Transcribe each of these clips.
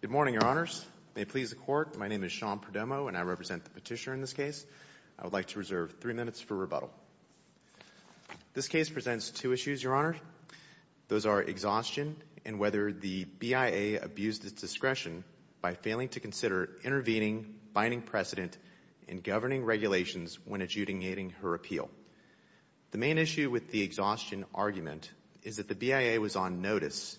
Good morning, Your Honors. May it please the Court, my name is Sean Perdomo and I represent the petitioner in this case. I would like to reserve three minutes for rebuttal. This case presents two issues, Your Honor. Those are exhaustion and whether the BIA abused its discretion by failing to consider intervening, binding precedent, and governing regulations when adjudicating her appeal. The main issue with the exhaustion argument is that the BIA was on notice,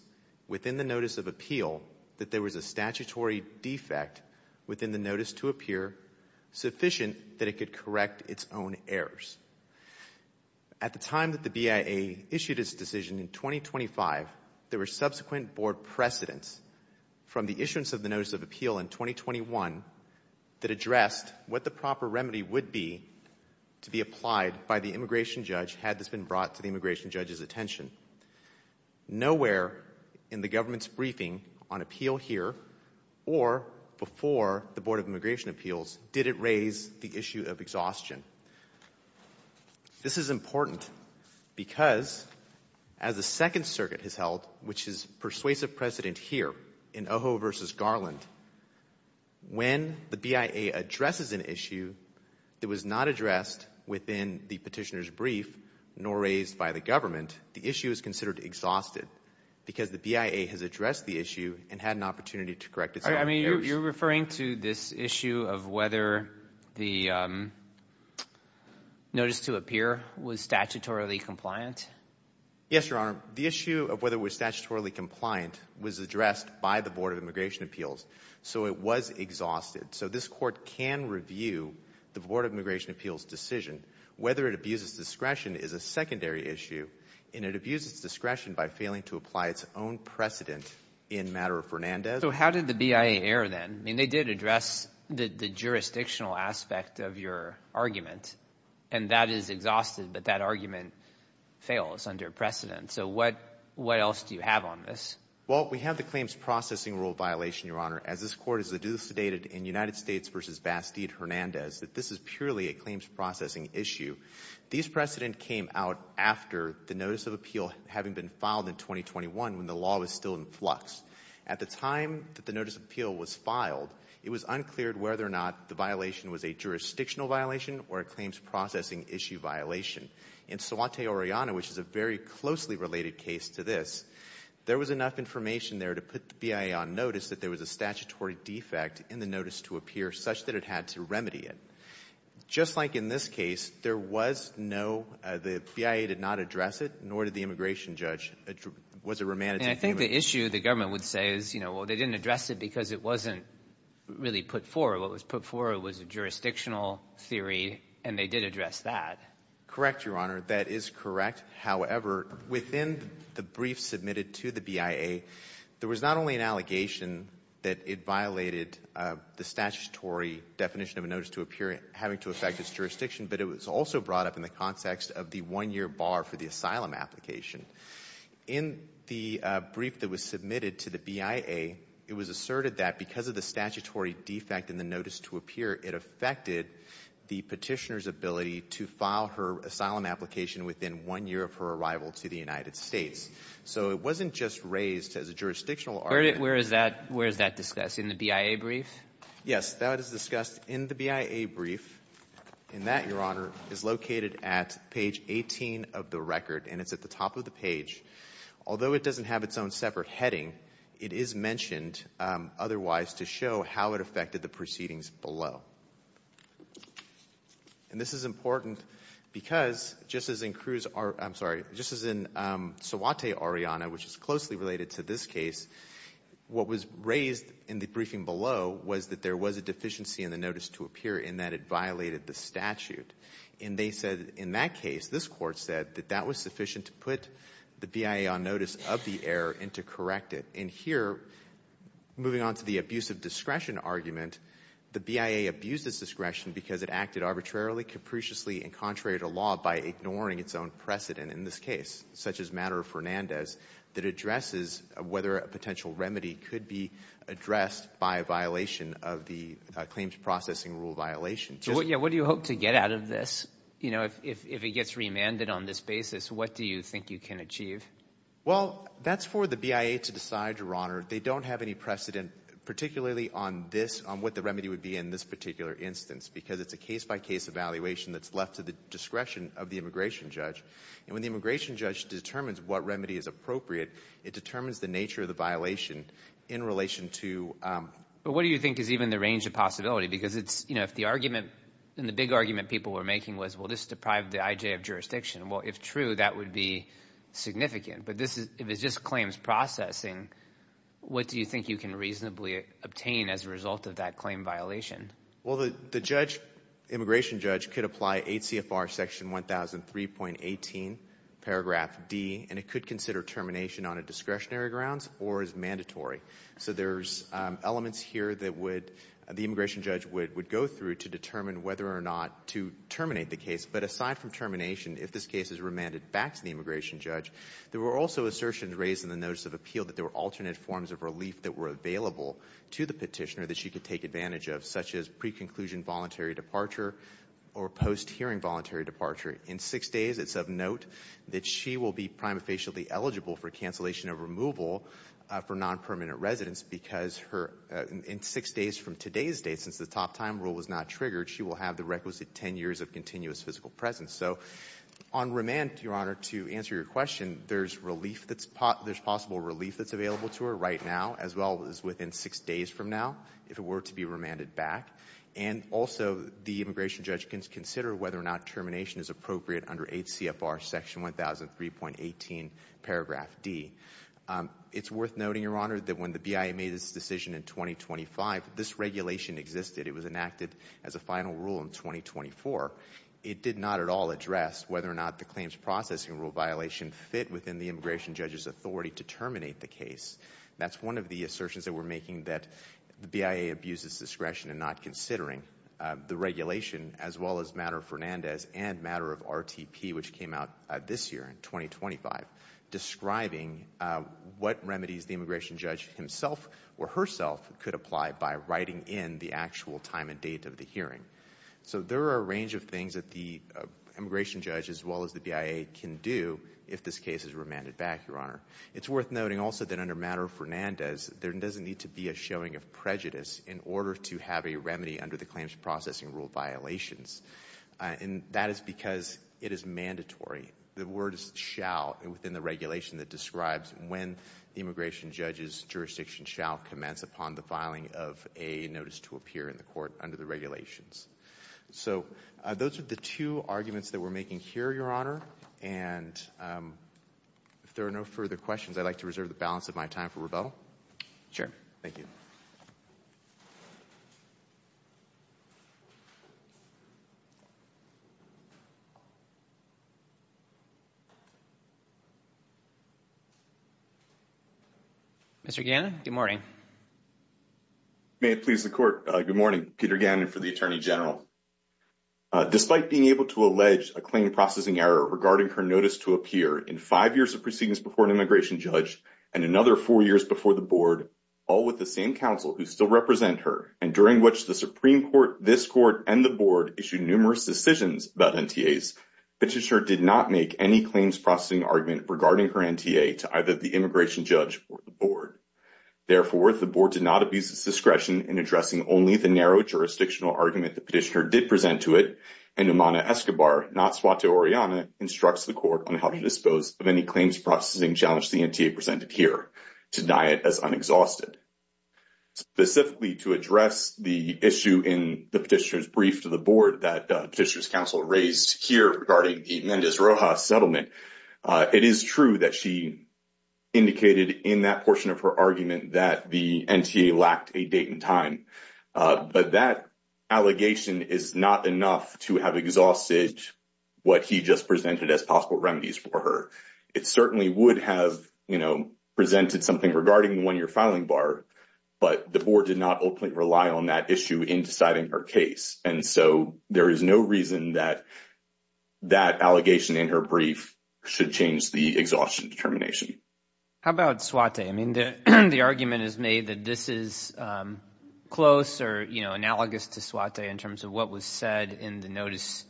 within the notice of appeal, that there was a statutory defect within the notice to appear sufficient that it could correct its own errors. At the time that the BIA issued its decision in 2025, there were subsequent board precedents from the issuance of the notice of appeal in 2021 that addressed what the proper remedy would be to be applied by the immigration judge had this been brought to the immigration judge's attention. Nowhere in the government's briefing on appeal here or before the Board of Immigration Appeals did it raise the issue of exhaustion. This is important because as the Second Circuit has held, which is persuasive precedent here in Ojo v. Garland, when the BIA addresses an issue that was not addressed within the petitioner's brief nor raised by the government, the issue is considered exhausted because the BIA has addressed the issue and had an opportunity to correct its own errors. All right. I mean, you're referring to this issue of whether the notice to appear was statutorily compliant? Yes, Your Honor. The issue of whether it was statutorily compliant was addressed by the Board of Immigration Appeals, so it was exhausted. So this court can review the Board of Immigration Appeals decision. Whether it abuses discretion is a secondary issue, and it abuses discretion by failing to apply its own precedent in matter of Fernandez. So how did the BIA err then? I mean, they did address the jurisdictional aspect of your argument, and that is exhausted, but that argument fails under precedent. So what else do you have on this? Well, we have the claims processing rule violation, Your Honor, as this court has adjudicated in United States v. Bastide-Hernandez that this is purely a claims processing issue. These precedent came out after the notice of appeal having been filed in 2021 when the law was still in flux. At the time that the notice of appeal was filed, it was unclear whether or not the violation was a jurisdictional violation or a claims processing issue violation. In Suante Oriana, which is a very closely related case to this, there was enough information there to put the BIA on notice that there was a statutory defect in the notice to appear such that it had to remedy it. Just like in this case, there was no, the BIA did not address it, nor did the immigration judge. It was a romantic thing. And I think the issue the government would say is, you know, well, they didn't address it because it wasn't really put forward. What was put forward was a jurisdictional theory, and they did address that. Correct, Your Honor. That is correct. However, within the brief submitted to the BIA, there was not only an allegation that it violated the statutory definition of a notice to appear having to affect its jurisdiction, but it was also brought up in the context of the one-year bar for the asylum application. In the brief that was submitted to the BIA, it was asserted that because of the statutory defect in the notice to appear, it affected the Petitioner's ability to file her asylum application within one year of her arrival to the United States. So it wasn't just raised as a jurisdictional argument. Where is that discussed? In the BIA brief? Yes. That is discussed in the BIA brief. And that, Your Honor, is located at page 18 of the record, and it's at the top of the page. Although it doesn't have its own separate heading, it is mentioned otherwise to show how it affected the proceedings below. And this is important because, just as in Suwate, Ariana, which is closely related to this case, what was raised in the briefing below was that there was a deficiency in the notice to appear in that it violated the statute. And they said in that case, this Court said that that was sufficient to put the BIA on notice of the error and to correct it. And here, moving on to the abuse of discretion argument, the BIA abused its discretion because it acted arbitrarily, capriciously, and contrary to law by ignoring its own precedent in this case, such as Matter of Fernandez, that addresses whether a potential remedy could be addressed by a violation of the claims processing rule violation. What do you hope to get out of this? You know, if it gets remanded on this basis, what do you think you can achieve? Well, that's for the BIA to decide, Your Honor. They don't have any precedent, particularly on this, on what the remedy would be in this particular instance, because it's a case-by-case evaluation that's left to the discretion of the immigration judge. And when the immigration judge determines what remedy is appropriate, it determines the nature of the violation in relation to... But what do you think is even the range of possibility? Because it's, you know, if the argument and the big argument people were making was, well, this deprived the IJ of jurisdiction, well, if true, that would be significant. But if it's just claims processing, what do you think you can reasonably obtain as a result of that claim violation? Well, the judge, immigration judge, could apply 8 CFR section 1003.18, paragraph D, and it could consider termination on a discretionary grounds or as mandatory. So there's elements here that would, the immigration judge would go through to determine whether or not to terminate the case. But aside from termination, if this case is remanded back to the immigration judge, there were also assertions raised in the Notice of Appeal that there were alternate forms of relief that were available to the petitioner that she could take advantage of, such as pre-conclusion voluntary departure or post-hearing voluntary departure. In six days, it's of note that she will be prima facie eligible for cancellation of removal for non-permanent residence because her, in six days from today's date, since the top time rule was not triggered, she will have the requisite 10 years of continuous physical presence. So on remand, Your Honor, to answer your question, there's relief that's, there's possible relief that's available to her right now, as well as within six days from now, if it were to be remanded back. And also the immigration judge can consider whether or not termination is appropriate under H.C.F.R. Section 1000, 3.18, paragraph D. It's worth noting, Your Honor, that when the BIA made this decision in 2025, this regulation existed. It was enacted as a final rule in 2024. It did not at all address whether or not the claims processing rule violation fit within the immigration judge's authority to terminate the case. That's one of the assertions that we're making that the BIA abuses discretion in not considering the regulation, as well as Matter Fernandez and Matter of RTP, which came out this year in 2025, describing what remedies the immigration judge himself or herself could apply by writing in the actual time and date of the hearing. So there are a range of things that the immigration judge, as well as the BIA, can do if this case is remanded back, Your Honor. It's worth noting also that under Matter Fernandez, there doesn't need to be a showing of prejudice in order to have a remedy under the claims processing rule violations. And that is because it is mandatory. The word is shall within the regulation that describes when the immigration judge's jurisdiction shall commence upon the filing of a notice to appear in the court under the regulations. So those are the two arguments that we're making here, Your Honor. And if there are no further questions, I'd like to balance up my time for rebuttal. Sure. Thank you. Mr. Gannon, good morning. May it please the court. Good morning. Peter Gannon for the Attorney General. Despite being able to allege a claim processing error regarding her notice to appear in five years of proceedings before an immigration judge and another four years before the board, all with the same counsel who still represent her, and during which the Supreme Court, this court and the board issued numerous decisions about NTAs, Petitioner did not make any claims processing argument regarding her NTA to either the immigration judge or the board. Therefore, the board did not abuse its discretion in addressing only the narrow jurisdictional argument the petitioner did present to it. And Umana Escobar, not to Oriana, instructs the court on how to dispose of any claims processing challenge the NTA presented here to deny it as unexhausted. Specifically to address the issue in the petitioner's brief to the board that Petitioner's counsel raised here regarding the Mendez Rojas settlement. It is true that she indicated in that portion of her argument that the NTA lacked a date and time. But that allegation is not enough to have exhausted what he just presented as possible remedies for her. It certainly would have, you know, presented something regarding the one-year filing bar, but the board did not openly rely on that issue in deciding her case. And so there is no reason that that allegation in her brief should change the exhaustion determination. How about Swatay? I mean, the argument is made that this is close or, you know, analogous to Swatay in terms of what was said in the notice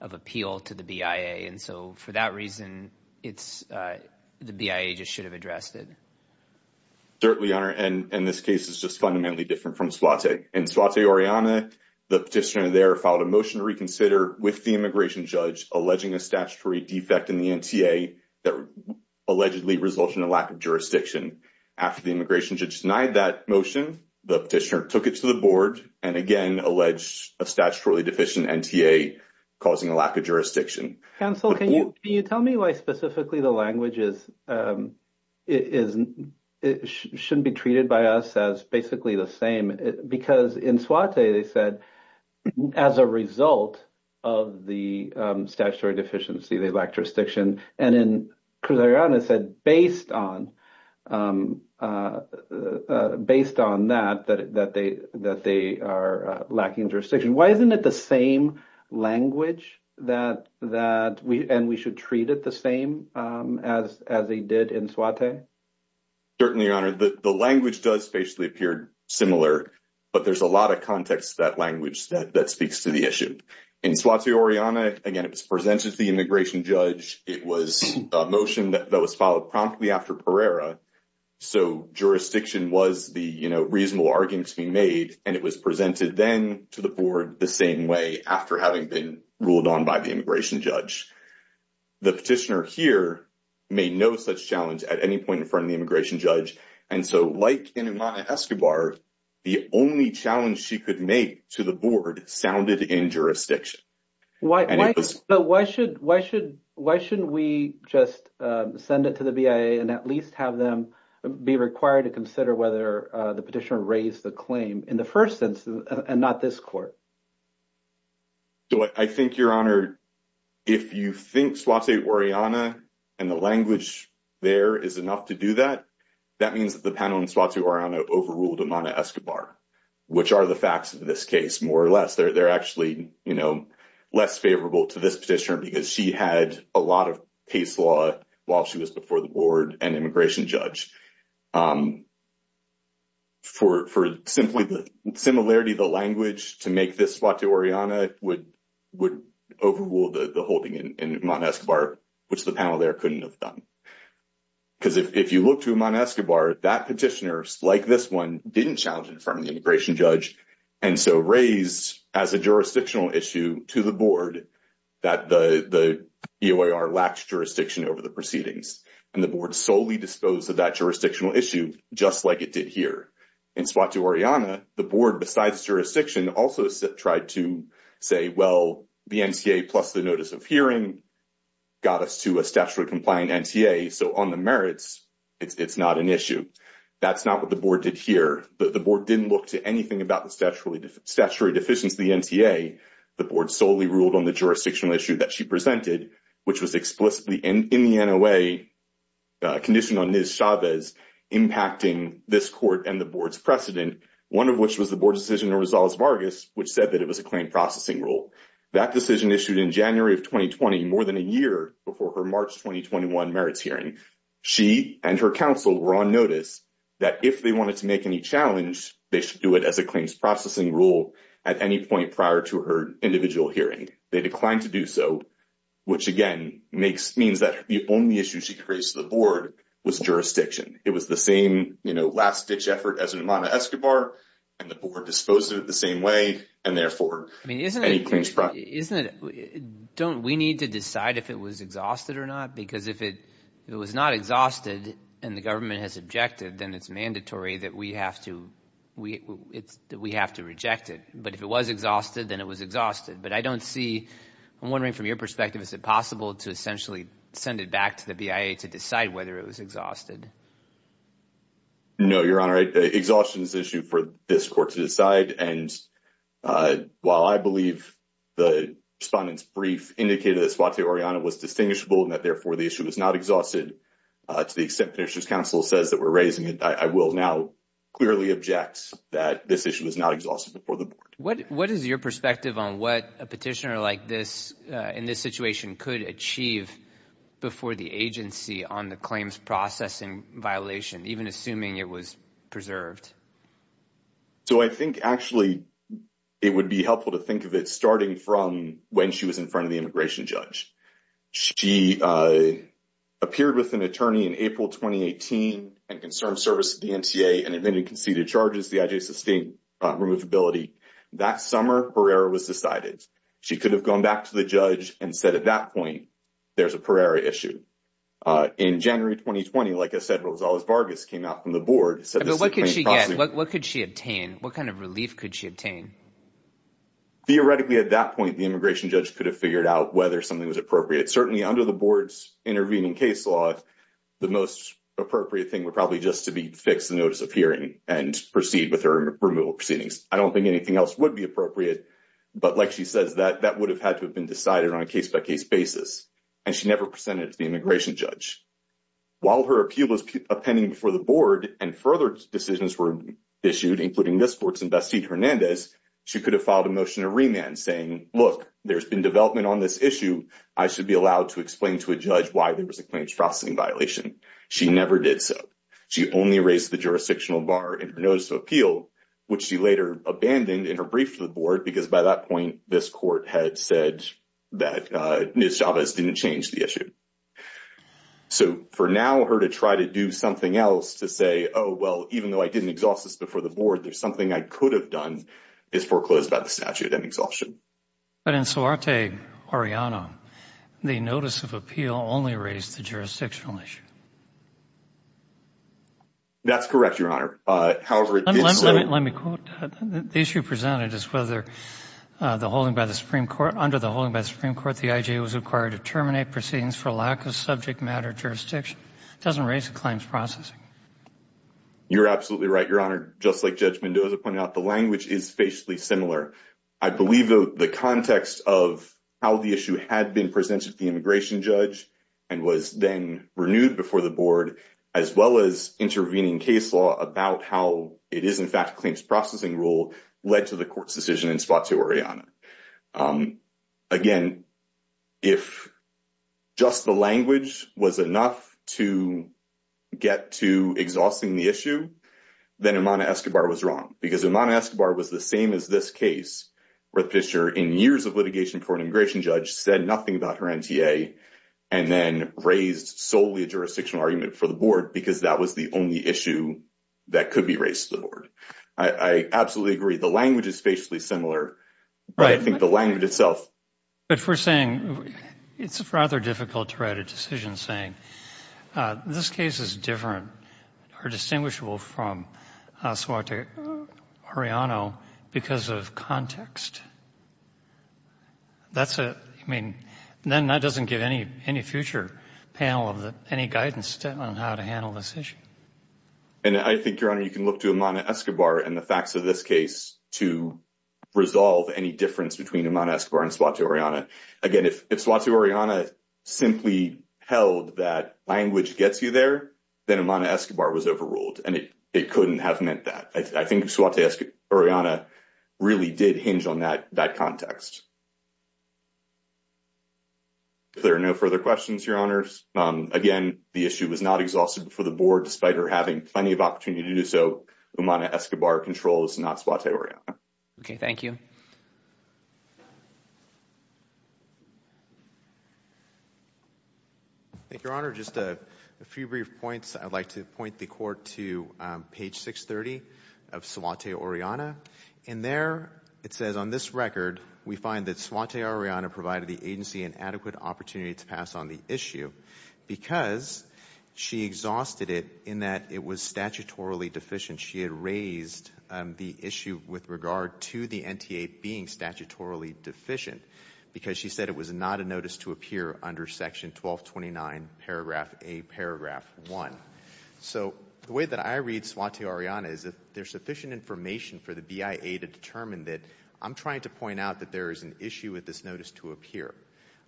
of appeal to the BIA. And so for that reason, it's the BIA just should have addressed it. Certainly, Your Honor. And in this case, it's just fundamentally different from Swatay. In Swatay Oriana, the petitioner there filed a motion to reconsider with the immigration judge, alleging a statutory defect in the NTA that allegedly resulted in a lack of jurisdiction. After the immigration judge denied that motion, the petitioner took it to the board and again alleged a statutorily deficient NTA causing a lack of jurisdiction. Counsel, can you tell me why specifically the language shouldn't be treated by us as basically the same? Because in Swatay, they said as a result of the statutory deficiency, they lack jurisdiction. And in Cruz Oriana said based on that, that they are lacking jurisdiction. Why isn't it the same language that that we and we should treat it the same as as they did in Swatay? Certainly, Your Honor, the language does basically appear similar, but there's a lot of context that language that speaks to the issue. In Swatay Oriana, again, it was presented to the immigration judge. It was a motion that was filed promptly after Pereira. So jurisdiction was the reasonable argument to be made. And it was presented then to the board the same way after having been ruled on by the immigration judge. The petitioner here made no such challenge at any point in front of the immigration judge. And so like in Imana Escobar, the only challenge she could make to the board sounded in jurisdiction. But why should why should why shouldn't we just send it to the BIA and at least have them be required to consider whether the petitioner raised the claim in the first instance and not this court? So I think, Your Honor, if you think Swatay Oriana and the language there is enough to do that, that means that the panel in Swatay Oriana overruled Imana Escobar, which are the facts of this case, more or less. They're actually, you know, less favorable to this petitioner because she had a lot of case law while she was before the board and immigration judge. For simply the similarity of the language to make this Swatay Oriana would overrule the holding in Imana Escobar, which the panel there couldn't have done. Because if you look to Imana Escobar, that petitioner, like this one, didn't challenge it in front of the immigration judge and so raised as a jurisdictional issue to the board that the EOIR lacks jurisdiction over the proceedings. And the board solely disposed of that jurisdictional issue just like it did here. In Swatay Oriana, the board, besides jurisdiction, also tried to say, well, the NTA plus the notice of hearing got us to a statutorily compliant NTA, so on the merits it's not an issue. That's not what the board did here. The board didn't look to anything about the statutory deficiency of the NTA. The board solely ruled on the jurisdictional issue that she presented, which was explicitly in the NOA condition on Ms. Chavez impacting this court and the board's precedent, one of which was the board decision in Rosales-Vargas, which said that it was a claim processing rule. That decision issued in January of 2020, more than a year before her March 2021 merits hearing. She and her counsel were on notice that if they wanted to make any challenge, they should do it as a claims processing rule at any point prior to her individual hearing. They declined to do so, which again means that the only issue she could raise to the board was jurisdiction. It was the same last-ditch effort as in Amana-Escobar, and the board disposed of it the same way, and therefore, any claims process. I mean, don't we need to decide if it was exhausted or not? Because if it was not exhausted and the government has objected, then it's mandatory that we have to reject it. But if it was exhausted, then it was exhausted. But I don't see, I'm wondering from your perspective, is it possible to essentially send it back to the BIA to decide whether it was exhausted? No, Your Honor. Exhaustion is an issue for this court to decide, and while I believe the respondent's brief indicated that Suaté-Oriana was distinguishable and that therefore the issue was not exhausted, to the extent that the District Counsel says that we're raising it, I will now clearly object that this issue was not exhausted before the board. What is your perspective on what a petitioner like this in this situation could achieve before the agency on the claims processing violation, even assuming it was preserved? So I think, actually, it would be helpful to think of it starting from when she was in front of the immigration judge. She appeared with an attorney in April 2018 and concerned service to the MTA and invented conceded charges, the I.J. Sustained Removability. That summer, Pereira was decided. She could have gone back to the judge and said at that point, there's a Pereira issue. In January 2020, like I said, Rosales Vargas came out from the board. But what could she get? What could she obtain? What kind of relief could she obtain? Theoretically, at that point, the immigration judge could have figured out whether something was appropriate. Certainly under the board's intervening case law, the most appropriate thing would probably just be to fix the notice of hearing and proceed with her removal proceedings. I don't think anything else would be appropriate. But like she says, that would have had to have been decided on a case-by-case basis. And she never presented it to the immigration judge. While her appeal was pending before the board and further decisions were issued, including this court's investee, Hernandez, she could have filed a motion to remand saying, look, there's been development on this issue. I should be allowed to explain to a judge why there was a claims processing violation. She never did so. She only raised the jurisdictional bar in her notice of appeal, which she later abandoned in her brief to the board because by that point, this court had said that Ms. Chavez didn't change the issue. So for now, her to try to do something else to say, oh, well, even though I didn't exhaust this before the board, there's something I could have done, is foreclosed by the statute and exhaustion. But in Suarte-Oriano, the notice of appeal only raised the jurisdictional issue. That's correct, Your Honor. However, it did so... Let me quote. The issue presented is whether the holding by the Supreme Court, under the holding by the Supreme Court, the IJA was required to terminate proceedings for lack of subject matter jurisdiction. It doesn't raise the claims processing. You're absolutely right, Your Honor. Just like Judge Mendoza pointed out, the language is facially similar. I believe the context of how the issue had been presented to the immigration judge and was then renewed before the board, as well as intervening case law about how it is in fact claims processing rule, led to the court's decision in Suarte-Oriano. Again, if just the language was enough to get to exhausting the issue, then Imana Escobar was wrong. Because Imana Escobar was the same as this case, where the petitioner, in years of litigation for an immigration judge, said nothing about her NTA, and then raised solely a jurisdictional argument for the board, because that was the only issue that could be raised to the board. I absolutely agree. The language is facially similar, but I think the language itself... But if we're saying, it's rather difficult to write a decision saying, this case is different or distinguishable from Suarte-Oriano because of context, then that doesn't give any future panel any guidance on how to handle this issue. And I think, Your Honor, you can look to Imana Escobar and the facts of this case to resolve any difference between Imana Escobar and Suarte-Oriano. Again, if Suarte-Oriano simply held that language gets you there, then Imana Escobar was overruled, and it couldn't have meant that. I think Suarte-Oriano really did hinge on that context. If there are no further questions, Your Honors, again, the issue was not exhausted before the board, despite her having plenty of opportunity to do so. Imana Escobar controls, not Suarte-Oriano. Okay, thank you. Thank you, Your Honor. Just a few brief points. I'd like to point the Court to page 630 of Suarte-Oriano. In there, it says, on this record, we find that Suarte-Oriano provided the agency an adequate opportunity to pass on the issue because she exhausted it in that it was statutorily deficient. She had raised the issue with regard to the NTA being statutorily deficient because she said it was not a notice to appear under Section 1229, paragraph A, paragraph 1. So the way that I read Suarte-Oriano is if there's sufficient information for the BIA to determine that, I'm trying to point out that there is an issue with this notice to appear,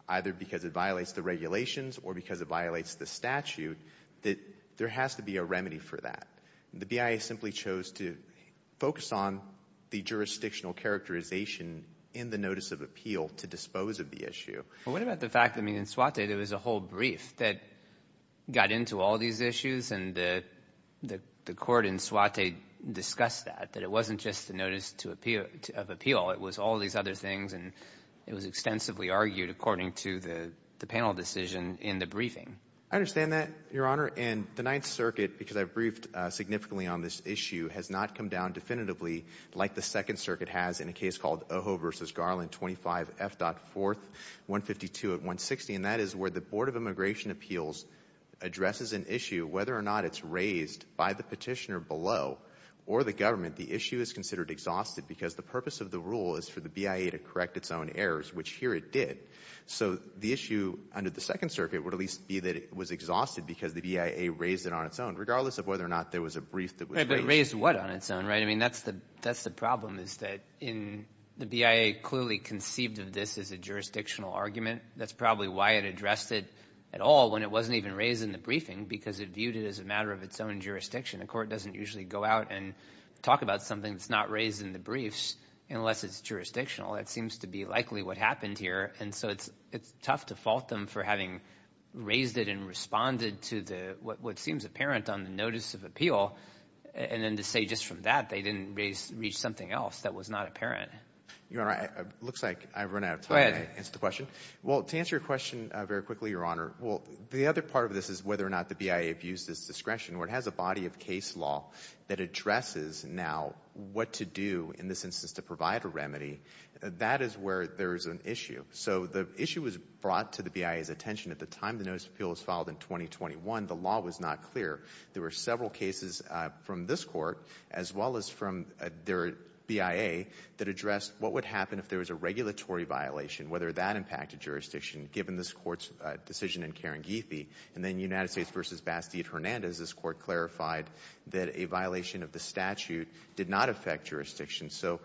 either because it violates the regulations or because it violates the statute, that there has to be a remedy for that. The BIA simply chose to focus on the jurisdictional characterization in the notice of appeal to dispose of the issue. Well, what about the fact that in Suarte, there was a whole brief that got into all these issues and the Court in Suarte discussed that, that it wasn't just the notice of appeal. It was all these other things and it was extensively argued according to the panel decision in the briefing. I understand that, Your Honor. And the Ninth Circuit, because I've briefed significantly on this issue, has not come down definitively like the Second Circuit has in a case called Ojo v. Garland 25F.4, 152 at 160. And that is where the Board of Immigration Appeals addresses an issue, whether or not it's raised by the petitioner below or the government, the issue is considered exhausted because the purpose of the rule is for the BIA to correct its own errors, which here it did. So the issue under the Second Circuit would at least be that it was exhausted because the BIA raised it on its own, regardless of whether or not there was a brief that was Raised what on its own, right? I mean, that's the problem is that in the BIA clearly conceived of this as a jurisdictional argument. That's probably why it addressed it at all when it wasn't even raised in the briefing because it viewed it as a matter of its own jurisdiction. The Court doesn't usually go out and talk about something that's not raised in the briefs unless it's jurisdictional. That seems to be likely what happened here. And so it's tough to fault them for having raised it and responded to what seems apparent on the notice of appeal. And then to say just from that they didn't reach something else that was not apparent. Your Honor, it looks like I've run out of time to answer the question. Well, to answer your question very quickly, Your Honor, well, the other part of this is whether or not the BIA views this discretion or it has a body of case law that addresses now what to do in this instance to provide a remedy. That is where there is an issue. So the issue was brought to the BIA's attention at the time the notice of appeal was filed in 2021. The law was not clear. There were several cases from this Court as well as from their BIA that addressed what would happen if there was a regulatory violation, whether that impacted jurisdiction given this Court's decision in Karangithi. And then United States v. Bastide-Hernandez, this Court clarified that a violation of the statute did not affect jurisdiction. So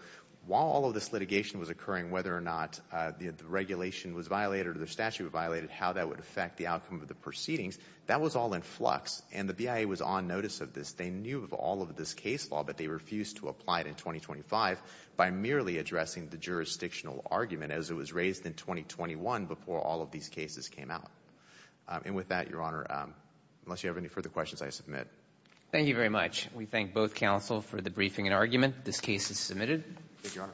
while all of this litigation was occurring, whether or not the regulation was violated or the statute violated, how that would affect the outcome of the proceedings, that was all in flux. And the BIA was on notice of this. They knew of all of this case law, but they refused to apply it in 2025 by merely addressing the jurisdictional argument as it was raised in 2021 before all of these cases came out. And with that, Your Honor, unless you have any further questions, I submit. Thank you very much. We thank both counsel for the briefing and argument. This case is Thank you, Your Honor.